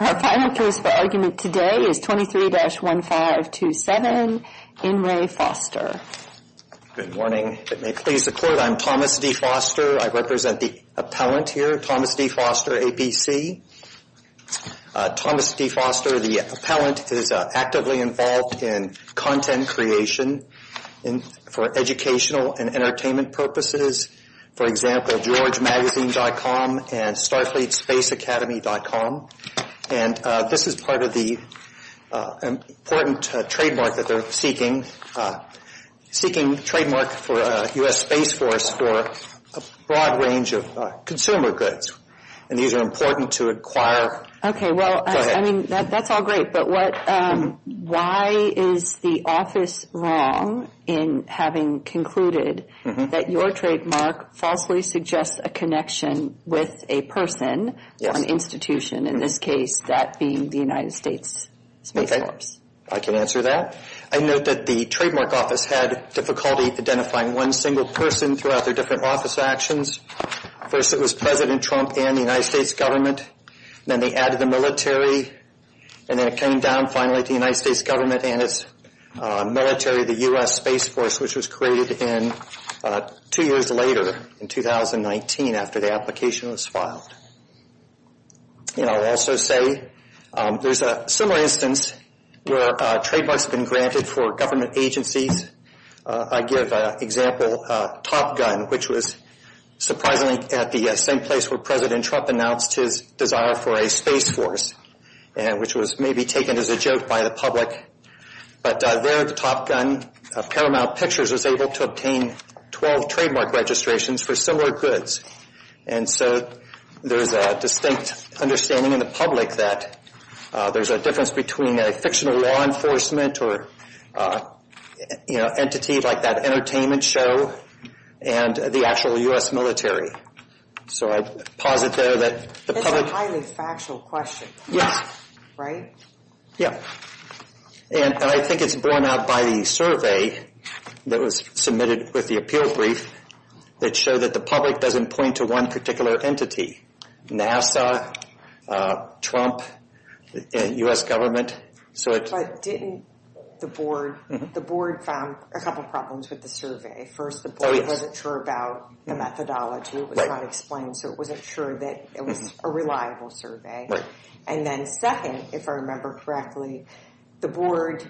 Our final case for argument today is 23-1527, In Re. Foster. Good morning. If it may please the Court, I'm Thomas D. Foster. I represent the appellant here, Thomas D. Foster, APC. Thomas D. Foster, the appellant, is actively involved in content creation for educational and entertainment purposes, for example, GeorgeMagazine.com and StarfleetSpaceAcademy.com. And this is part of the important trademark that they're seeking, seeking trademark for U.S. Space Force for a broad range of consumer goods. And these are important to acquire. Okay, well, I mean, that's all great. But why is the office wrong in having concluded that your trademark falsely suggests a connection with a person or an institution, in this case that being the United States Space Force? I can answer that. I note that the trademark office had difficulty identifying one single person throughout their different office actions. First, it was President Trump and the United States government. Then they added the military. And then it came down, finally, to the United States government and its military, the U.S. Space Force, which was created two years later, in 2019, after the application was filed. And I'll also say there's a similar instance where trademarks have been granted for government agencies. I give an example, Top Gun, which was surprisingly at the same place where President Trump announced his desire for a space force, which was maybe taken as a joke by the public. But there, Top Gun, Paramount Pictures, was able to obtain 12 trademark registrations for similar goods. And so there's a distinct understanding in the public that there's a difference between a fictional law enforcement or, you know, entity like that entertainment show and the actual U.S. military. So I posit there that the public... It's a highly factual question. Yes. Right? Yeah. And I think it's borne out by the survey that was submitted with the appeal brief that showed that the public doesn't point to one particular entity, NASA, Trump, U.S. government. But didn't the board, the board found a couple problems with the survey. First, the board wasn't sure about the methodology. It was not explained, so it wasn't sure that it was a reliable survey. And then second, if I remember correctly, the board,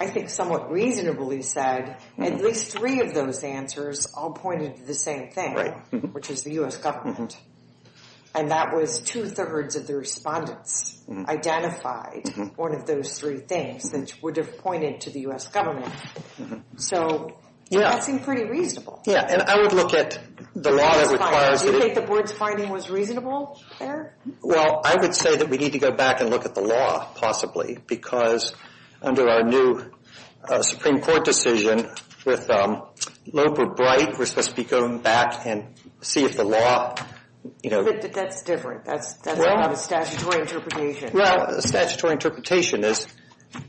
I think, somewhat reasonably said at least three of those answers all pointed to the same thing, which is the U.S. government. And that was two-thirds of the respondents identified one of those three things that would have pointed to the U.S. government. So that seemed pretty reasonable. Yeah, and I would look at the law that requires... Do you think the board's finding was reasonable there? Well, I would say that we need to go back and look at the law, possibly, because under our new Supreme Court decision with Loper-Bright, we're supposed to be going back and see if the law... But that's different. That's not a statutory interpretation. Well, a statutory interpretation is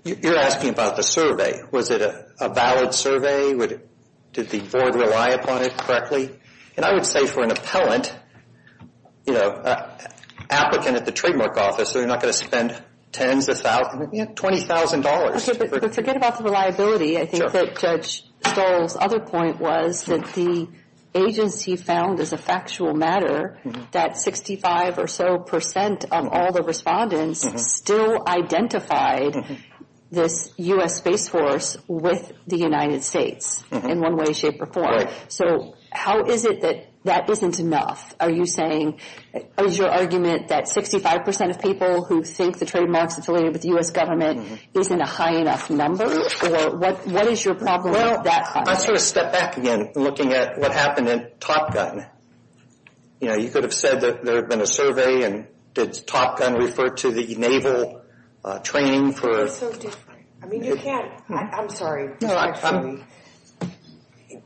you're asking about the survey. Was it a valid survey? Did the board rely upon it correctly? And I would say for an appellant, you know, applicant at the trademark office, they're not going to spend tens of thousands, you know, $20,000. Forget about the reliability. I think that Judge Stoll's other point was that the agency found as a factual matter that 65 or so percent of all the respondents still identified this U.S. Space Force with the United States in one way, shape, or form. Right. So how is it that that isn't enough? Are you saying... Is your argument that 65 percent of people who think the trademark's affiliated with the U.S. government isn't a high enough number? Or what is your problem with that high? I'd sort of step back again, looking at what happened in Top Gun. You know, you could have said that there had been a survey, and did Top Gun refer to the naval training for... It's so different. I mean, you can't... I'm sorry. No, I'm...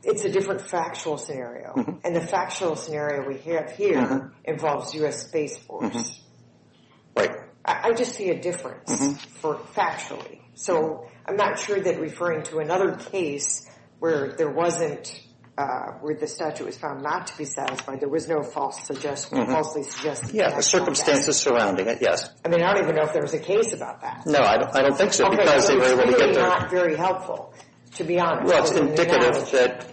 It's a different factual scenario. And the factual scenario we have here involves U.S. Space Force. Right. I just see a difference for factually. So I'm not sure that referring to another case where there wasn't... where the statute was found not to be satisfying, there was no false suggestion, falsely suggesting that. Yeah, the circumstances surrounding it, yes. I mean, I don't even know if there was a case about that. No, I don't think so, because they were able to get their... Okay, so it's really not very helpful, to be honest. Well, it's indicative that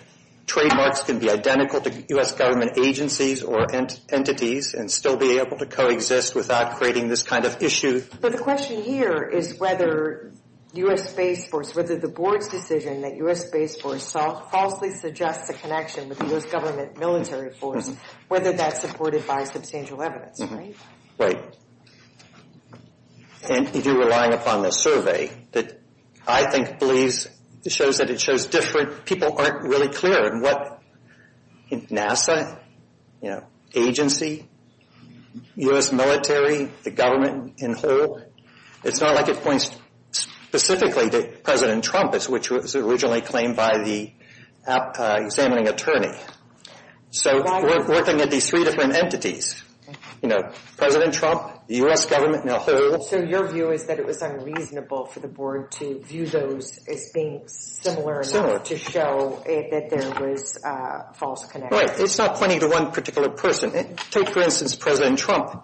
trademarks can be identical to U.S. government agencies or entities and still be able to coexist without creating this kind of issue. But the question here is whether U.S. Space Force, whether the board's decision that U.S. Space Force falsely suggests a connection with the U.S. government military force, whether that's supported by substantial evidence, right? Right. And if you're relying upon this survey, that I think shows that it shows different... People aren't really clear on what NASA, agency, U.S. military, the government, and who. It's not like it points specifically to President Trump, which was originally claimed by the examining attorney. So we're looking at these three different entities, you know, President Trump, the U.S. government, and who. So your view is that it was unreasonable for the board to view those as being similar enough... ...to show that there was a false connection. Right, it's not pointing to one particular person. Take, for instance, President Trump.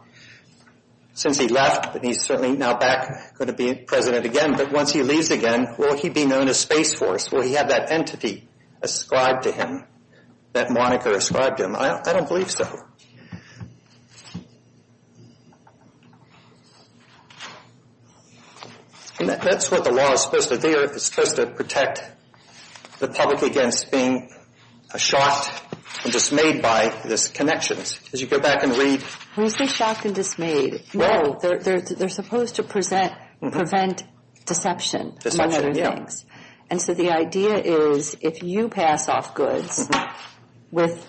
Since he left, and he's certainly now back going to be president again, but once he leaves again, will he be known as Space Force? Will he have that entity ascribed to him, that moniker ascribed to him? I don't believe so. That's what the law is supposed to do. It's supposed to protect the public against being shocked and dismayed by these connections. As you go back and read... Who's being shocked and dismayed? No, they're supposed to prevent deception. Deception, yeah. And so the idea is, if you pass off goods with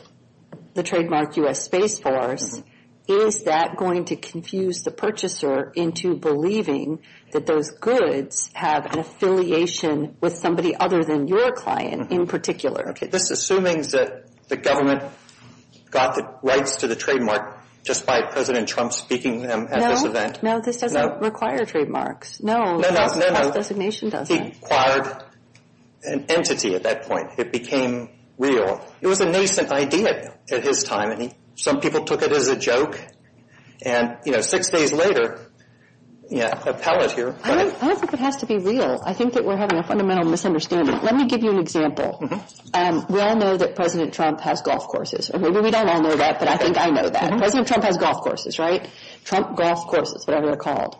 the trademark U.S. Space Force, is that going to confuse the purchaser into believing that those goods have an affiliation... ...with somebody other than your client in particular? This assuming that the government got the rights to the trademark just by President Trump speaking to them at this event. No, this doesn't require trademarks. False designation does that. He acquired an entity at that point. It became real. It was a nascent idea at his time. Some people took it as a joke. And six days later... I don't think it has to be real. I think that we're having a fundamental misunderstanding. Let me give you an example. We all know that President Trump has golf courses. Maybe we don't all know that, but I think I know that. President Trump has golf courses, right? Trump Golf Courses, whatever they're called.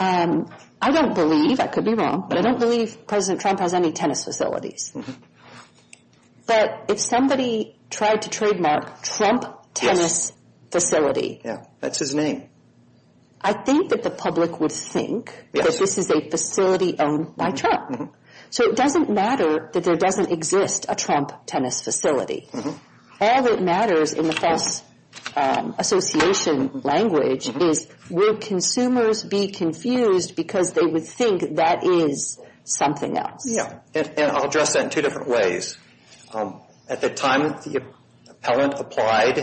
I don't believe, I could be wrong, but I don't believe President Trump has any tennis facilities. But if somebody tried to trademark Trump Tennis Facility... Yeah, that's his name. I think that the public would think that this is a facility owned by Trump. So it doesn't matter that there doesn't exist a Trump Tennis Facility. All that matters in the false association language is... ...will consumers be confused because they would think that is something else? Yeah, and I'll address that in two different ways. At the time the appellant applied,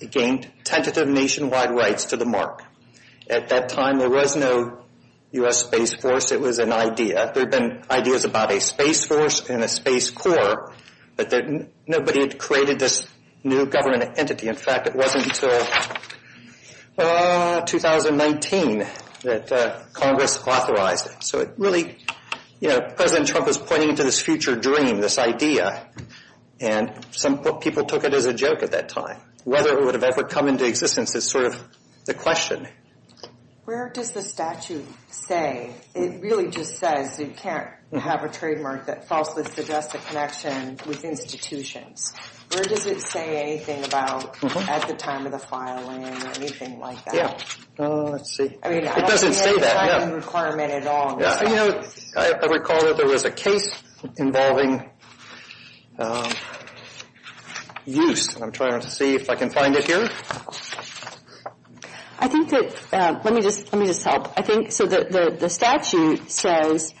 it gained tentative nationwide rights to the mark. At that time, there was no U.S. Space Force. It was an idea. There had been ideas about a Space Force and a Space Corps, but nobody had created this new government entity. In fact, it wasn't until 2019 that Congress authorized it. So it really, you know, President Trump was pointing to this future dream, this idea, and some people took it as a joke at that time. Whether it would have ever come into existence is sort of the question. Where does the statute say? It really just says you can't have a trademark that falsely suggests a connection with institutions. Where does it say anything about at the time of the filing or anything like that? Yeah, let's see. It doesn't say that. I recall that there was a case involving use. I'm trying to see if I can find it here. Let me just help. So the statute says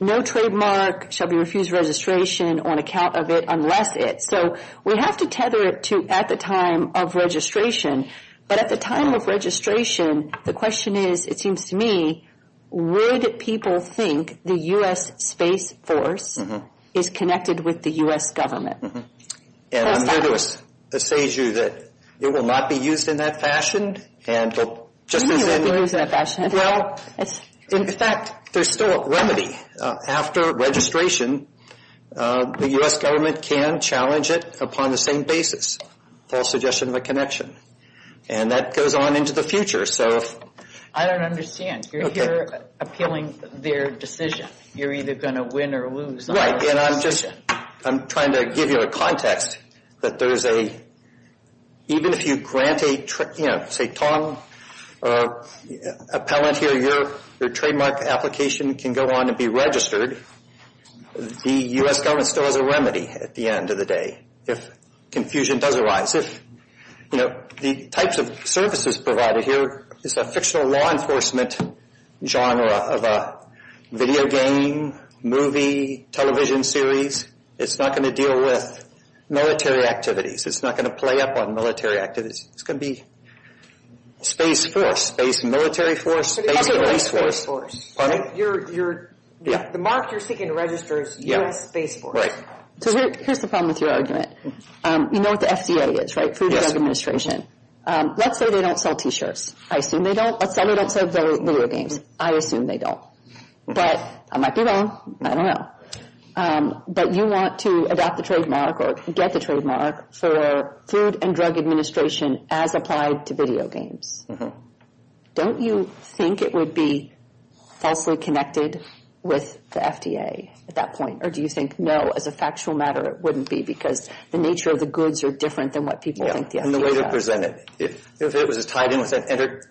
no trademark shall be refused registration on account of it unless it. So we have to tether it to at the time of registration. But at the time of registration, the question is, it seems to me, would people think the U.S. Space Force is connected with the U.S. government? And I'm here to assuage you that it will not be used in that fashion. It may not be used in that fashion. In fact, there's still a remedy. After registration, the U.S. government can challenge it upon the same basis, false suggestion of a connection. And that goes on into the future. I don't understand. You're appealing their decision. You're either going to win or lose. Right. And I'm just trying to give you a context that there's a, even if you grant a, say, Tong appellant here, your trademark application can go on to be registered. The U.S. government still has a remedy at the end of the day. If confusion does arise. If, you know, the types of services provided here, it's a fictional law enforcement genre of a video game, movie, television series. It's not going to deal with military activities. It's not going to play up on military activities. It's going to be Space Force, Space Military Force, Space Race Force. The mark you're seeking to register is U.S. Space Force. Right. So here's the problem with your argument. You know what the FDA is, right? Food and Drug Administration. Let's say they don't sell T-shirts. I assume they don't. Let's say they don't sell video games. I assume they don't. But I might be wrong. I don't know. But you want to adopt the trademark or get the trademark for Food and Drug Administration as applied to video games. Don't you think it would be falsely connected with the FDA at that point? Or do you think, no, as a factual matter, it wouldn't be because the nature of the goods are different than what people think the FDA is? And the way they're presented. If it was tied in with an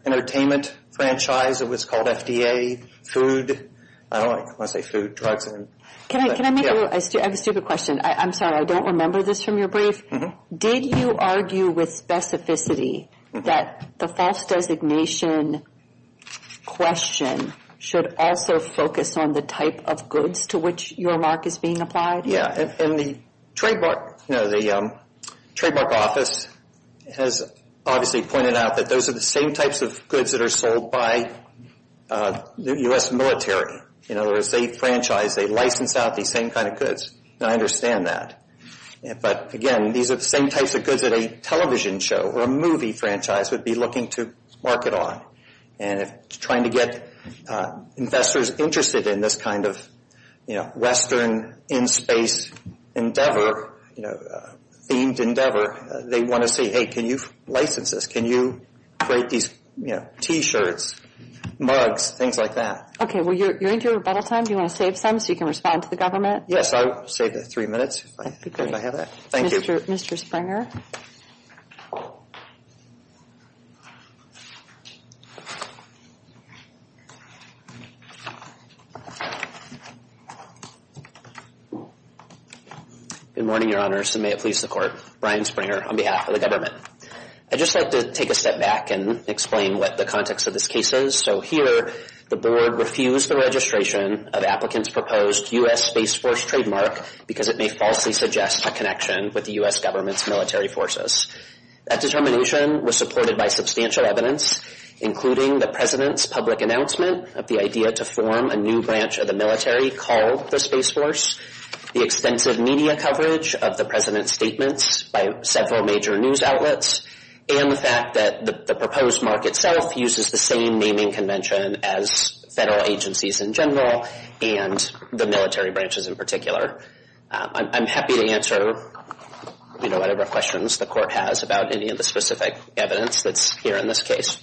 entertainment franchise, it was called FDA, food. I don't want to say food, drugs. Can I make a stupid question? I'm sorry, I don't remember this from your brief. Did you argue with specificity that the false designation question should also focus on the type of goods to which your mark is being applied? Yeah, and the trademark office has obviously pointed out that those are the same types of goods that are sold by the U.S. military. In other words, they franchise, they license out these same kind of goods. And I understand that. But, again, these are the same types of goods that a television show or a movie franchise would be looking to market on. And if it's trying to get investors interested in this kind of Western in-space endeavor, themed endeavor, they want to say, hey, can you license this? Can you create these T-shirts, mugs, things like that? Okay, well, you're into your rebuttal time. Do you want to save some so you can respond to the government? Yes, I'll save three minutes if I have that. Thank you. Mr. Springer. Good morning, Your Honors, and may it please the Court. Brian Springer on behalf of the government. I'd just like to take a step back and explain what the context of this case is. So here the board refused the registration of applicants' proposed U.S. Space Force trademark because it may falsely suggest a connection with the U.S. government's military forces. That determination was supported by substantial evidence, including the President's public announcement of the idea to form a new branch of the military called the Space Force, the extensive media coverage of the President's statements by several major news outlets, and the fact that the proposed mark itself uses the same naming convention as federal agencies in general and the military branches in particular. I'm happy to answer whatever questions the Court has about any of the specific evidence that's here in this case.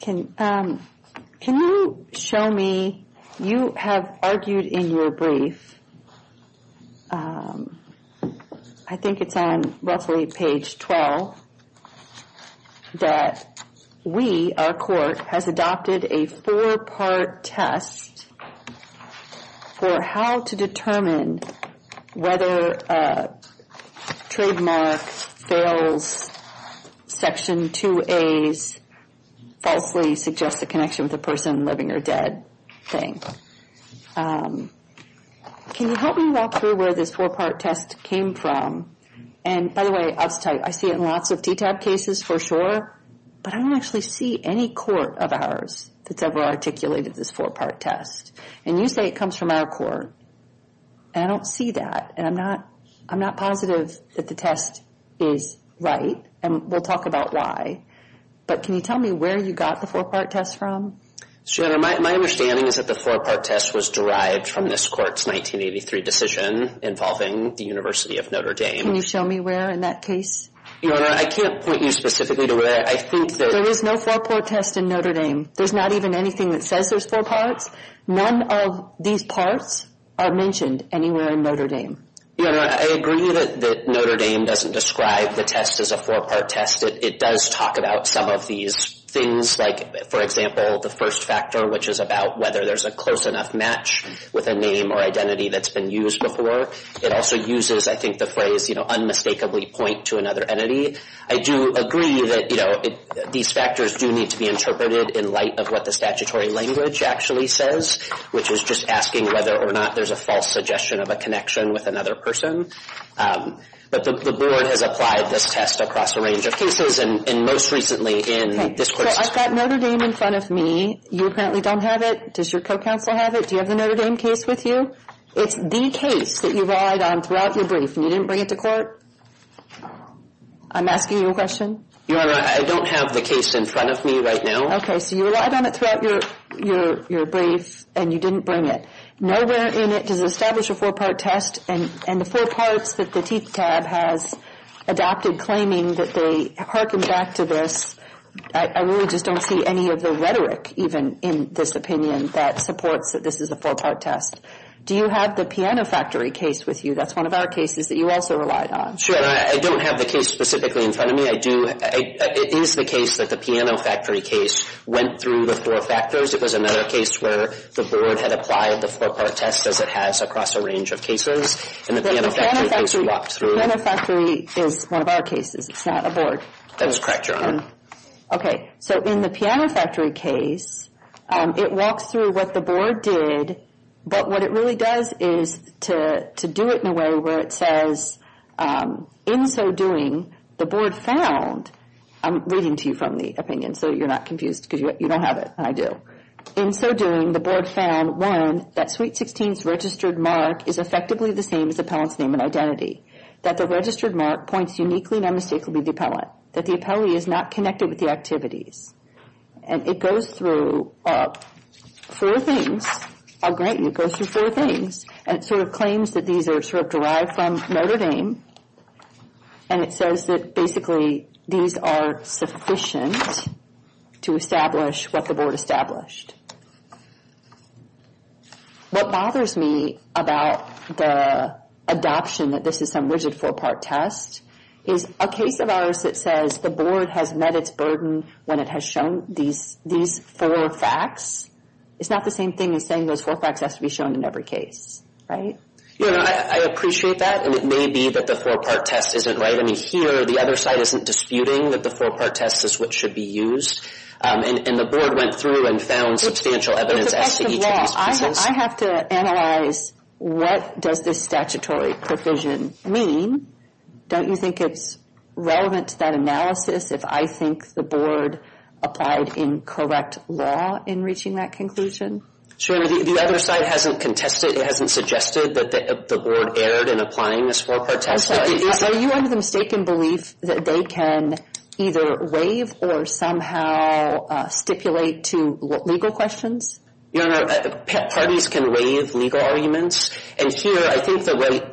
Can you show me, you have argued in your brief, I think it's on roughly page 12, that we, our Court, has adopted a four-part test for how to determine whether a trademark fails Section 2A's falsely suggested connection with a person living or dead thing. Can you help me walk through where this four-part test came from? And, by the way, I have to tell you, I see it in lots of TTAB cases for sure, but I don't actually see any Court of ours that's ever articulated this four-part test. And you say it comes from our Court, and I don't see that, and I'm not positive that the test is right, and we'll talk about why. But can you tell me where you got the four-part test from? Senator, my understanding is that the four-part test was derived from this Court's 1983 decision involving the University of Notre Dame. Can you show me where in that case? Your Honor, I can't point you specifically to where. I think that— There is no four-part test in Notre Dame. There's not even anything that says there's four parts. None of these parts are mentioned anywhere in Notre Dame. Your Honor, I agree that Notre Dame doesn't describe the test as a four-part test. It does talk about some of these things, like, for example, the first factor, which is about whether there's a close enough match with a name or identity that's been used before. It also uses, I think, the phrase, you know, unmistakably point to another entity. I do agree that, you know, these factors do need to be interpreted in light of what the statutory language actually says, which is just asking whether or not there's a false suggestion of a connection with another person. But the Board has applied this test across a range of cases, and most recently in this Court's— I've got Notre Dame in front of me. You apparently don't have it. Does your co-counsel have it? Do you have the Notre Dame case with you? It's the case that you relied on throughout your brief, and you didn't bring it to court? I'm asking you a question. Your Honor, I don't have the case in front of me right now. Okay, so you relied on it throughout your brief, and you didn't bring it. Nowhere in it does it establish a four-part test, and the four parts that the TTAB has adopted claiming that they hearken back to this, I really just don't see any of the rhetoric even in this opinion that supports that this is a four-part test. Do you have the Piano Factory case with you? That's one of our cases that you also relied on. Sure. I don't have the case specifically in front of me. I do—it is the case that the Piano Factory case went through the four factors. It was another case where the Board had applied the four-part test, as it has across a range of cases, and the Piano Factory case walked through it. The Piano Factory is one of our cases. It's not a Board. That is correct, Your Honor. Okay, so in the Piano Factory case, it walks through what the Board did, but what it really does is to do it in a way where it says, in so doing, the Board found—I'm reading to you from the opinion, so you're not confused because you don't have it, and I do. In so doing, the Board found, one, that Suite 16's registered mark is effectively the same as the appellant's name and identity, that the registered mark points uniquely and unmistakably to the appellant, that the appellee is not connected with the activities. And it goes through four things. I'll grant you it goes through four things, and it sort of claims that these are sort of derived from Notre Dame, and it says that basically these are sufficient to establish what the Board established. What bothers me about the adoption that this is some rigid four-part test is a case of ours that says the Board has met its burden when it has shown these four facts. It's not the same thing as saying those four facts have to be shown in every case, right? Your Honor, I appreciate that, and it may be that the four-part test isn't right. I mean, here, the other side isn't disputing that the four-part test is what should be used, and the Board went through and found substantial evidence as to each of these pieces. It's a question of law. I have to analyze what does this statutory provision mean. Don't you think it's relevant to that analysis if I think the Board applied incorrect law in reaching that conclusion? Sure. The other side hasn't contested, hasn't suggested that the Board erred in applying this four-part test. Are you under the mistaken belief that they can either waive or somehow stipulate to legal questions? Your Honor, parties can waive legal arguments. And here, I think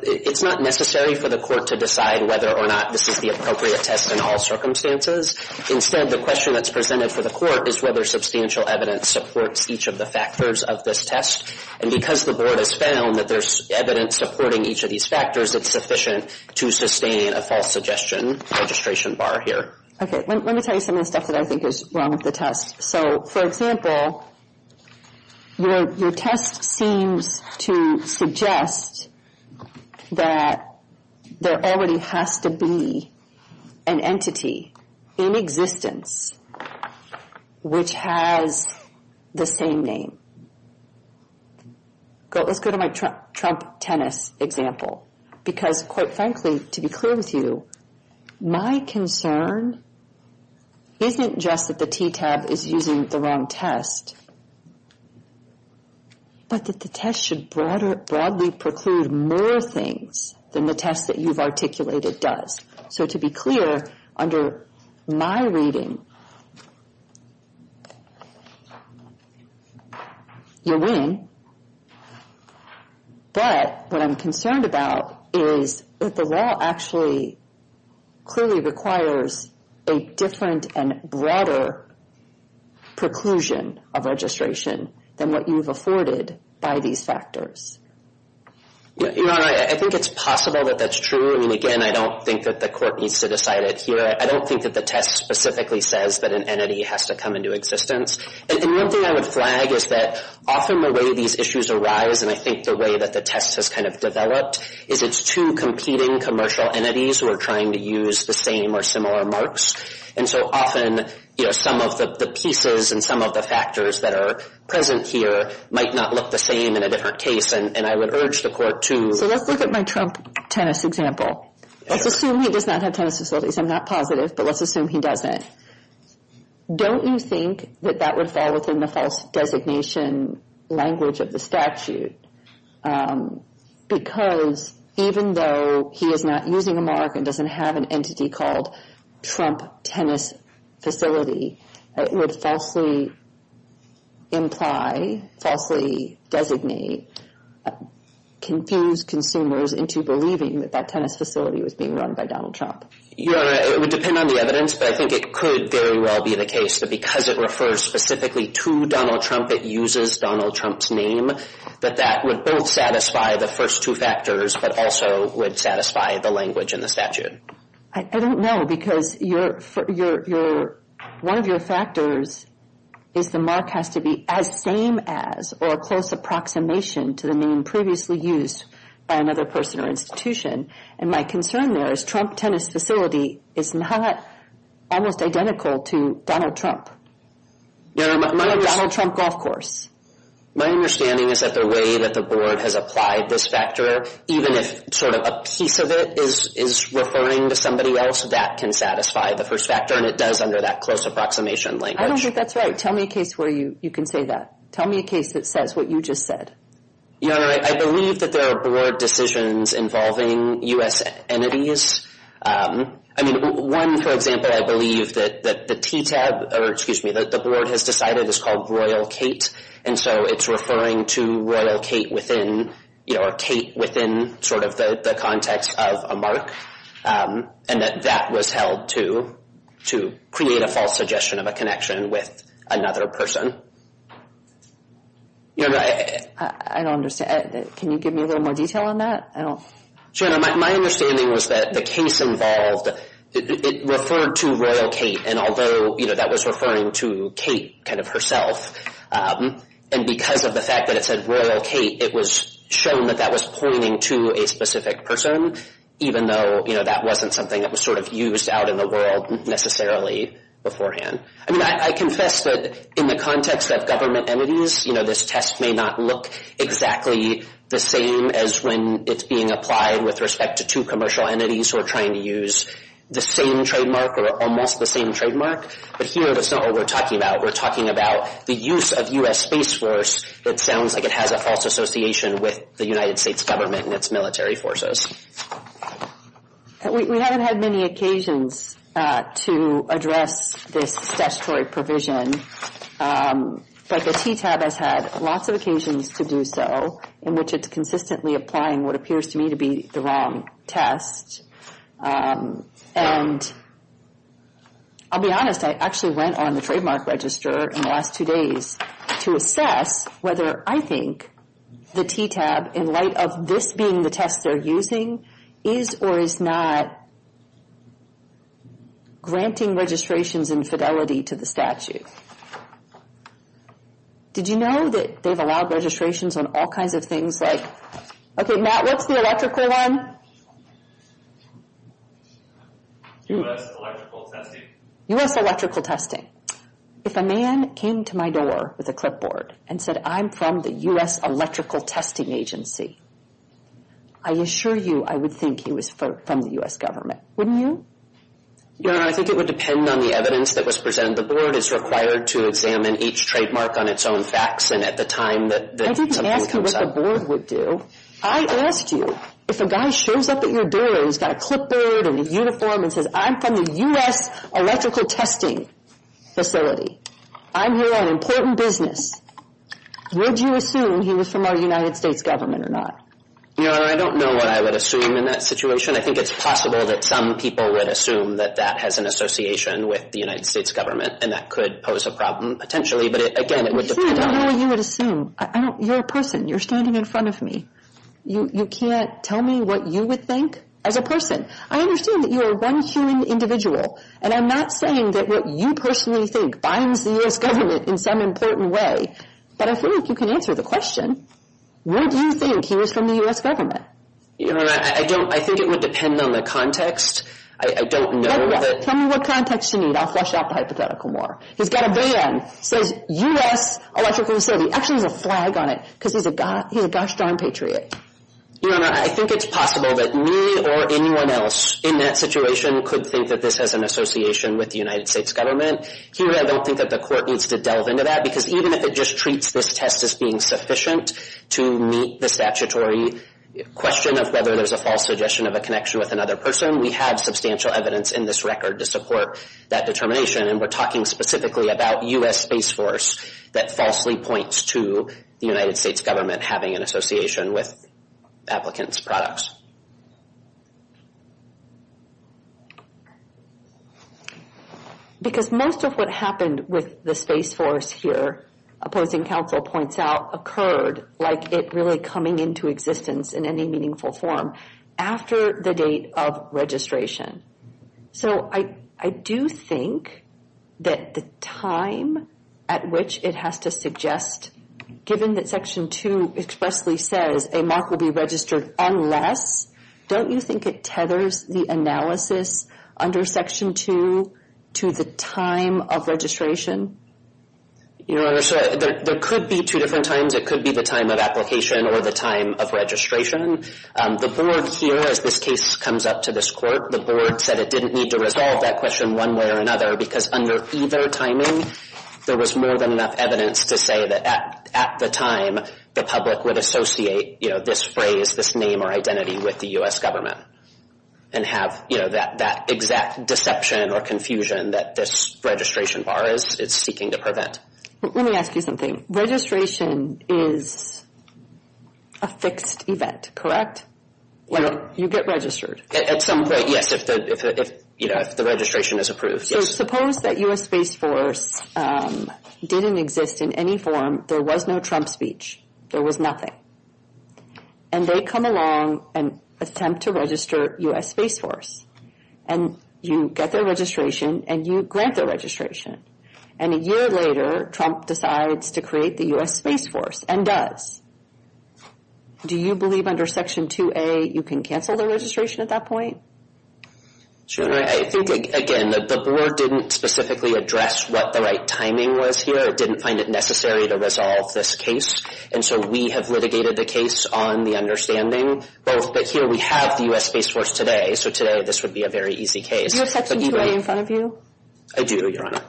it's not necessary for the Court to decide whether or not this is the appropriate test in all circumstances. Instead, the question that's presented for the Court is whether substantial evidence supports each of the factors of this test. And because the Board has found that there's evidence supporting each of these factors, it's sufficient to sustain a false suggestion registration bar here. Okay. Let me tell you some of the stuff that I think is wrong with the test. So, for example, your test seems to suggest that there already has to be an entity in existence which has the same name. Let's go to my Trump tennis example. Because, quite frankly, to be clear with you, my concern isn't just that the TTAB is using the wrong test, but that the test should broadly preclude more things than the test that you've articulated does. So, to be clear, under my reading, you win. But what I'm concerned about is that the law actually clearly requires a different and broader preclusion of registration than what you've afforded by these factors. Your Honor, I think it's possible that that's true. I mean, again, I don't think that the Court needs to decide it here. I don't think that the test specifically says that an entity has to come into existence. And one thing I would flag is that often the way these issues arise, and I think the way that the test has kind of developed, is it's two competing commercial entities who are trying to use the same or similar marks. And so often, you know, some of the pieces and some of the factors that are present here might not look the same in a different case. And I would urge the Court to… Let's look at my Trump tennis example. Let's assume he does not have tennis facilities. I'm not positive, but let's assume he doesn't. Don't you think that that would fall within the false designation language of the statute? Because even though he is not using a mark and doesn't have an entity called Trump Tennis Facility, it would falsely imply, falsely designate, confuse consumers into believing that that tennis facility was being run by Donald Trump. Your Honor, it would depend on the evidence, but I think it could very well be the case that because it refers specifically to Donald Trump, it uses Donald Trump's name, that that would both satisfy the first two factors, but also would satisfy the language in the statute. I don't know, because one of your factors is the mark has to be as same as or a close approximation to the name previously used by another person or institution. And my concern there is Trump Tennis Facility is not almost identical to Donald Trump or Donald Trump Golf Course. My understanding is that the way that the board has applied this factor, even if sort of a piece of it is referring to somebody else, that can satisfy the first factor, and it does under that close approximation language. I don't think that's right. Tell me a case where you can say that. Tell me a case that says what you just said. Your Honor, I believe that there are board decisions involving U.S. entities. I mean, one, for example, I believe that the TTAB, or excuse me, that the board has decided is called Royal Kate, and so it's referring to Royal Kate within, you know, or Kate within sort of the context of a mark, and that that was held to create a false suggestion of a connection with another person. Your Honor, I don't understand. Can you give me a little more detail on that? Your Honor, my understanding was that the case involved, it referred to Royal Kate, and although, you know, that was referring to Kate kind of herself, and because of the fact that it said Royal Kate, it was shown that that was pointing to a specific person, even though, you know, that wasn't something that was sort of used out in the world necessarily beforehand. I mean, I confess that in the context of government entities, you know, this test may not look exactly the same as when it's being applied with respect to two commercial entities who are trying to use the same trademark or almost the same trademark, but here that's not what we're talking about. We're talking about the use of U.S. Space Force. It sounds like it has a false association with the United States government and its military forces. We haven't had many occasions to address this statutory provision, but the TTAB has had lots of occasions to do so, in which it's consistently applying what appears to me to be the wrong test, and I'll be honest. I actually went on the trademark register in the last two days to assess whether I think the TTAB, in light of this being the test they're using, is or is not granting registrations in fidelity to the statute. Did you know that they've allowed registrations on all kinds of things like, okay, Matt, what's the electrical one? U.S. electrical testing. U.S. electrical testing. If a man came to my door with a clipboard and said, I'm from the U.S. electrical testing agency, I assure you I would think he was from the U.S. government, wouldn't you? Your Honor, I think it would depend on the evidence that was presented. The board is required to examine each trademark on its own facts, and at the time that something comes up. I didn't ask you what the board would do. I asked you if a guy shows up at your door and he's got a clipboard and a uniform and says, I'm from the U.S. electrical testing facility. I'm here on important business. Would you assume he was from our United States government or not? Your Honor, I don't know what I would assume in that situation. I think it's possible that some people would assume that that has an association with the United States government, and that could pose a problem potentially, but, again, it would depend on the evidence. I don't know what you would assume. You're a person. You're standing in front of me. You can't tell me what you would think as a person. I understand that you are one human individual, and I'm not saying that what you personally think binds the U.S. government in some important way, but I feel like you can answer the question. Would you think he was from the U.S. government? Your Honor, I don't. I think it would depend on the context. I don't know that. Tell me what context you need. I'll flush out the hypothetical more. He's got a ban, says U.S. electrical facility. Actually, there's a flag on it because he's a gosh darn patriot. Your Honor, I think it's possible that me or anyone else in that situation could think that this has an association with the United States government. Here I don't think that the court needs to delve into that, because even if it just treats this test as being sufficient to meet the statutory question of whether there's a false suggestion of a connection with another person, we have substantial evidence in this record to support that determination, and we're talking specifically about U.S. Space Force that falsely points to the United States government having an association with applicants' products. Because most of what happened with the Space Force here, opposing counsel points out, occurred like it really coming into existence in any meaningful form after the date of registration. So I do think that the time at which it has to suggest, given that Section 2 expressly says a mock will be registered unless, don't you think it tethers the analysis under Section 2 to the time of registration? Your Honor, there could be two different times. It could be the time of application or the time of registration. The board here, as this case comes up to this court, the board said it didn't need to resolve that question one way or another, because under either timing, there was more than enough evidence to say that at the time, the public would associate this phrase, this name or identity with the U.S. government and have that exact deception or confusion that this registration bar is seeking to prevent. Let me ask you something. Registration is a fixed event, correct? You get registered. At some point, yes, if the registration is approved, yes. So suppose that U.S. Space Force didn't exist in any form. There was no Trump speech. There was nothing. And they come along and attempt to register U.S. Space Force. And you get their registration and you grant their registration. And a year later, Trump decides to create the U.S. Space Force and does. Do you believe under Section 2A you can cancel the registration at that point? I think, again, the board didn't specifically address what the right timing was here. It didn't find it necessary to resolve this case. And so we have litigated the case on the understanding. But here we have the U.S. Space Force today, so today this would be a very easy case. Do you have Section 2A in front of you? I do, Your Honor.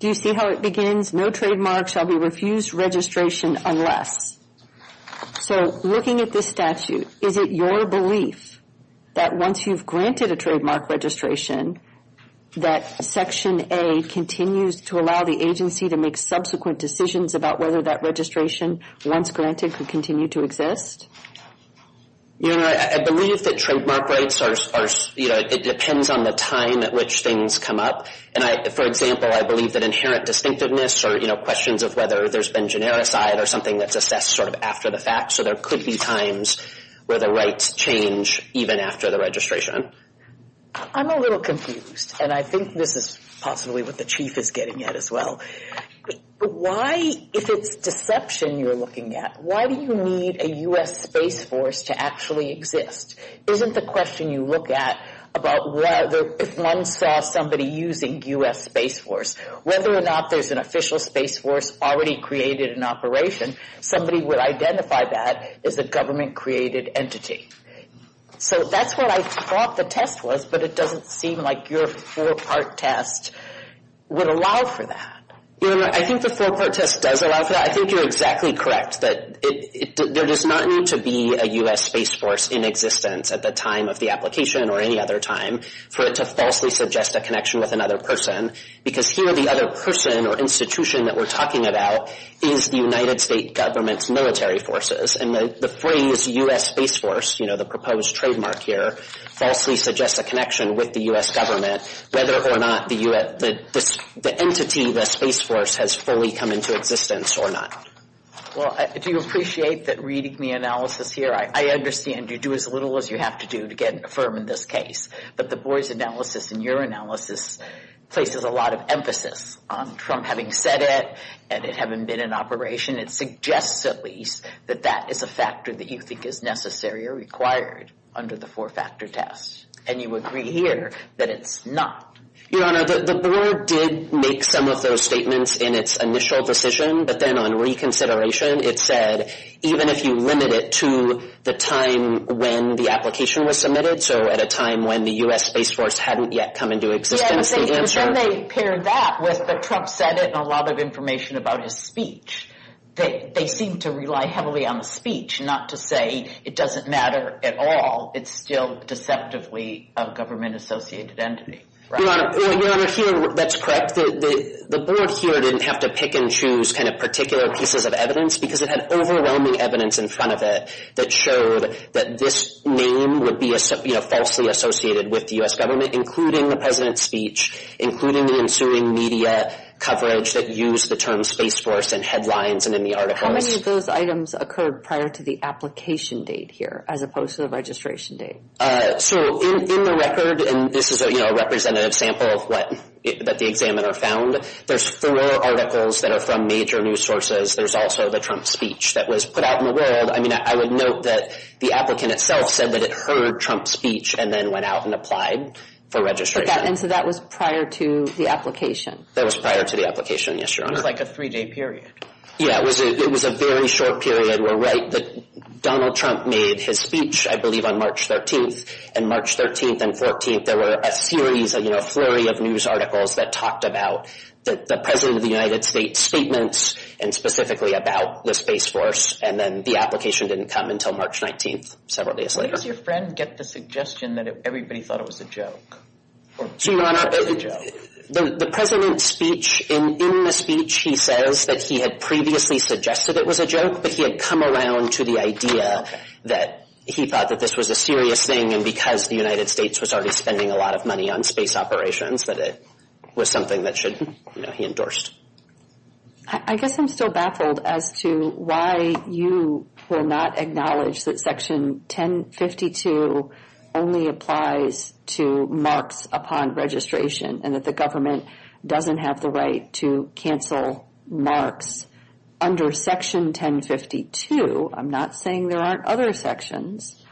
Do you see how it begins? No trademark shall be refused registration unless. So looking at this statute, is it your belief that once you've granted a trademark registration, that Section A continues to allow the agency to make subsequent decisions about whether that registration, once granted, could continue to exist? Your Honor, I believe that trademark rights are, you know, it depends on the time at which things come up. And, for example, I believe that inherent distinctiveness or, you know, questions of whether there's been genericized or something that's assessed sort of after the fact, so there could be times where the rights change even after the registration. I'm a little confused, and I think this is possibly what the Chief is getting at as well. Why, if it's deception you're looking at, why do you need a U.S. Space Force to actually exist? Isn't the question you look at about whether if one saw somebody using U.S. Space Force, whether or not there's an official Space Force already created in operation, somebody would identify that as a government-created entity. So that's what I thought the test was, but it doesn't seem like your four-part test would allow for that. Your Honor, I think the four-part test does allow for that. I think you're exactly correct that there does not need to be a U.S. Space Force in existence at the time of the application or any other time for it to falsely suggest a connection with another person, because here the other person or institution that we're talking about is the United States government's military forces. And the phrase U.S. Space Force, you know, the proposed trademark here, falsely suggests a connection with the U.S. government, whether or not the entity, the Space Force, has fully come into existence or not. Well, do you appreciate that reading the analysis here, I understand you do as little as you have to do to get it affirmed in this case, but the Boies analysis and your analysis places a lot of emphasis on Trump having said it and it having been in operation, it suggests at least that that is a factor that you think is necessary or required under the four-factor test. And you agree here that it's not. Your Honor, the board did make some of those statements in its initial decision, but then on reconsideration it said even if you limit it to the time when the application was submitted, so at a time when the U.S. Space Force hadn't yet come into existence, the answer— they seem to rely heavily on the speech, not to say it doesn't matter at all. It's still deceptively a government-associated entity. Your Honor, here that's correct. The board here didn't have to pick and choose kind of particular pieces of evidence because it had overwhelming evidence in front of it that showed that this name would be, you know, falsely associated with the U.S. government, including the president's speech, including the ensuing media coverage that used the term Space Force in headlines and in the articles. How many of those items occurred prior to the application date here, as opposed to the registration date? So in the record—and this is, you know, a representative sample that the examiner found— there's four articles that are from major news sources. There's also the Trump speech that was put out in the world. I mean, I would note that the applicant itself said that it heard Trump's speech and then went out and applied for registration. And so that was prior to the application? That was prior to the application, yes, Your Honor. It was like a three-day period. Yeah, it was a very short period. We're right that Donald Trump made his speech, I believe, on March 13th. And March 13th and 14th, there were a series, you know, a flurry of news articles that talked about the president of the United States' statements and specifically about the Space Force. And then the application didn't come until March 19th, several days later. Where does your friend get the suggestion that everybody thought it was a joke? Your Honor, the president's speech, in the speech, he says that he had previously suggested it was a joke, but he had come around to the idea that he thought that this was a serious thing and because the United States was already spending a lot of money on space operations that it was something that should, you know, he endorsed. I guess I'm still baffled as to why you will not acknowledge that Section 1052 only applies to marks upon registration and that the government doesn't have the right to cancel marks under Section 1052. I'm not saying there aren't other sections,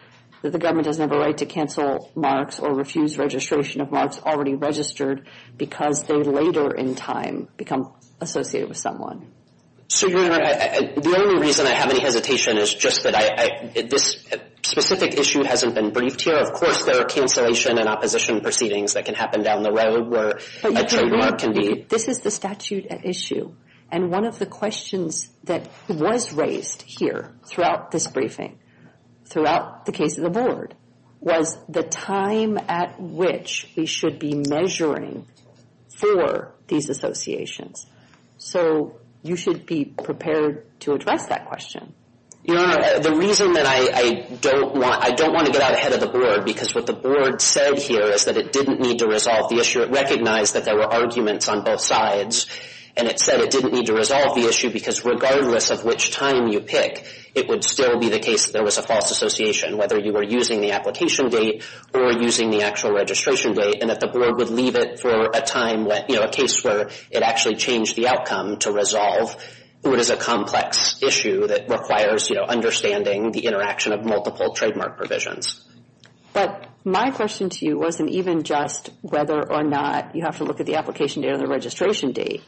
that the government doesn't have a right to cancel marks or refuse registration of marks already registered because they later in time become associated with someone. So, Your Honor, the only reason I have any hesitation is just that this specific issue hasn't been briefed here. Of course, there are cancellation and opposition proceedings that can happen down the road where a trademark can be. This is the statute at issue. And one of the questions that was raised here throughout this briefing, throughout the case of the board, was the time at which we should be measuring for these associations. So, you should be prepared to address that question. Your Honor, the reason that I don't want to get out ahead of the board because what the board said here is that it didn't need to resolve the issue. It recognized that there were arguments on both sides and it said it didn't need to resolve the issue because regardless of which time you pick, it would still be the case that there was a false association, whether you were using the application date or using the actual registration date, and that the board would leave it for a time, a case where it actually changed the outcome to resolve what is a complex issue that requires understanding the interaction of multiple trademark provisions. But my question to you wasn't even just whether or not you have to look at the application date or the registration date,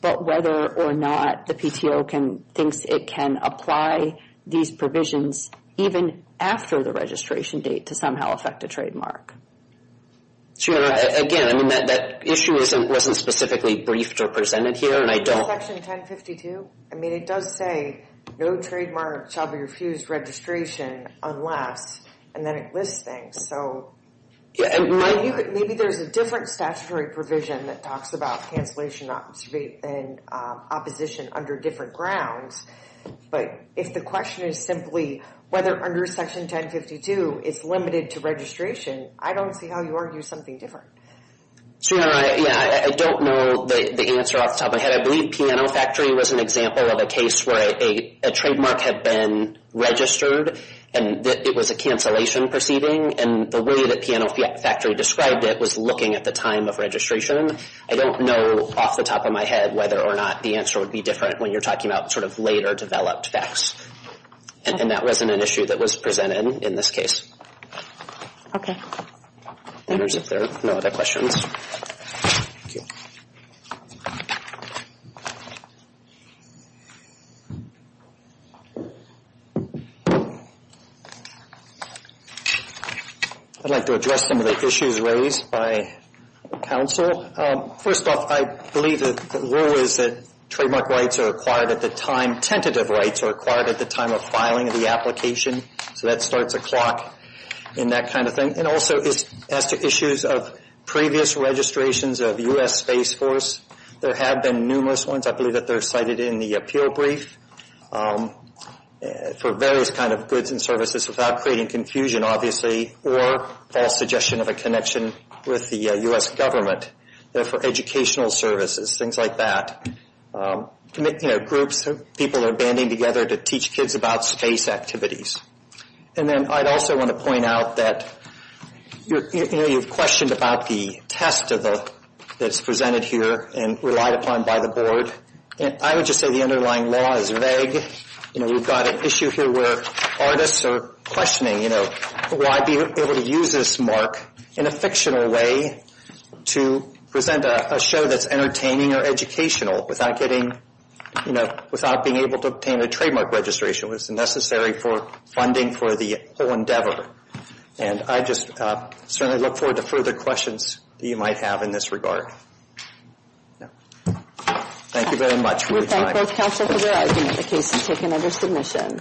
but whether or not the PTO thinks it can apply these provisions even after the registration date to somehow affect a trademark. Your Honor, again, I mean, that issue wasn't specifically briefed or presented here, and I don't... Section 1052, I mean, it does say, no trademark shall be refused registration unless, and then it lists things, so... Maybe there's a different statutory provision that talks about cancellation and opposition under different grounds, but if the question is simply whether under Section 1052 it's limited to registration, I don't see how you argue something different. Your Honor, yeah, I don't know the answer off the top of my head. I believe Piano Factory was an example of a case where a trademark had been registered, and it was a cancellation proceeding, and the way that Piano Factory described it was looking at the time of registration. I don't know off the top of my head whether or not the answer would be different when you're talking about sort of later developed facts in that resonant issue that was presented in this case. Okay. If there are no other questions. Thank you. I'd like to address some of the issues raised by counsel. First off, I believe that the rule is that trademark rights are acquired at the time... Tentative rights are acquired at the time of filing the application, so that starts a clock in that kind of thing. And also as to issues of previous registrations of U.S. Space Force, there have been numerous ones. I believe that they're cited in the appeal brief for various kind of goods and services without creating confusion, obviously, or false suggestion of a connection with the U.S. government. They're for educational services, things like that. You know, groups, people are banding together to teach kids about space activities. And then I'd also want to point out that you've questioned about the test that's presented here and relied upon by the board. I would just say the underlying law is vague. You know, we've got an issue here where artists are questioning, you know, why be able to use this mark in a fictional way to present a show that's entertaining or educational without getting, you know, without being able to obtain a trademark registration when it's necessary for funding for the whole endeavor. And I just certainly look forward to further questions that you might have in this regard. Thank you very much for your time. We thank both counsel for their arguments. The case is taken under submission.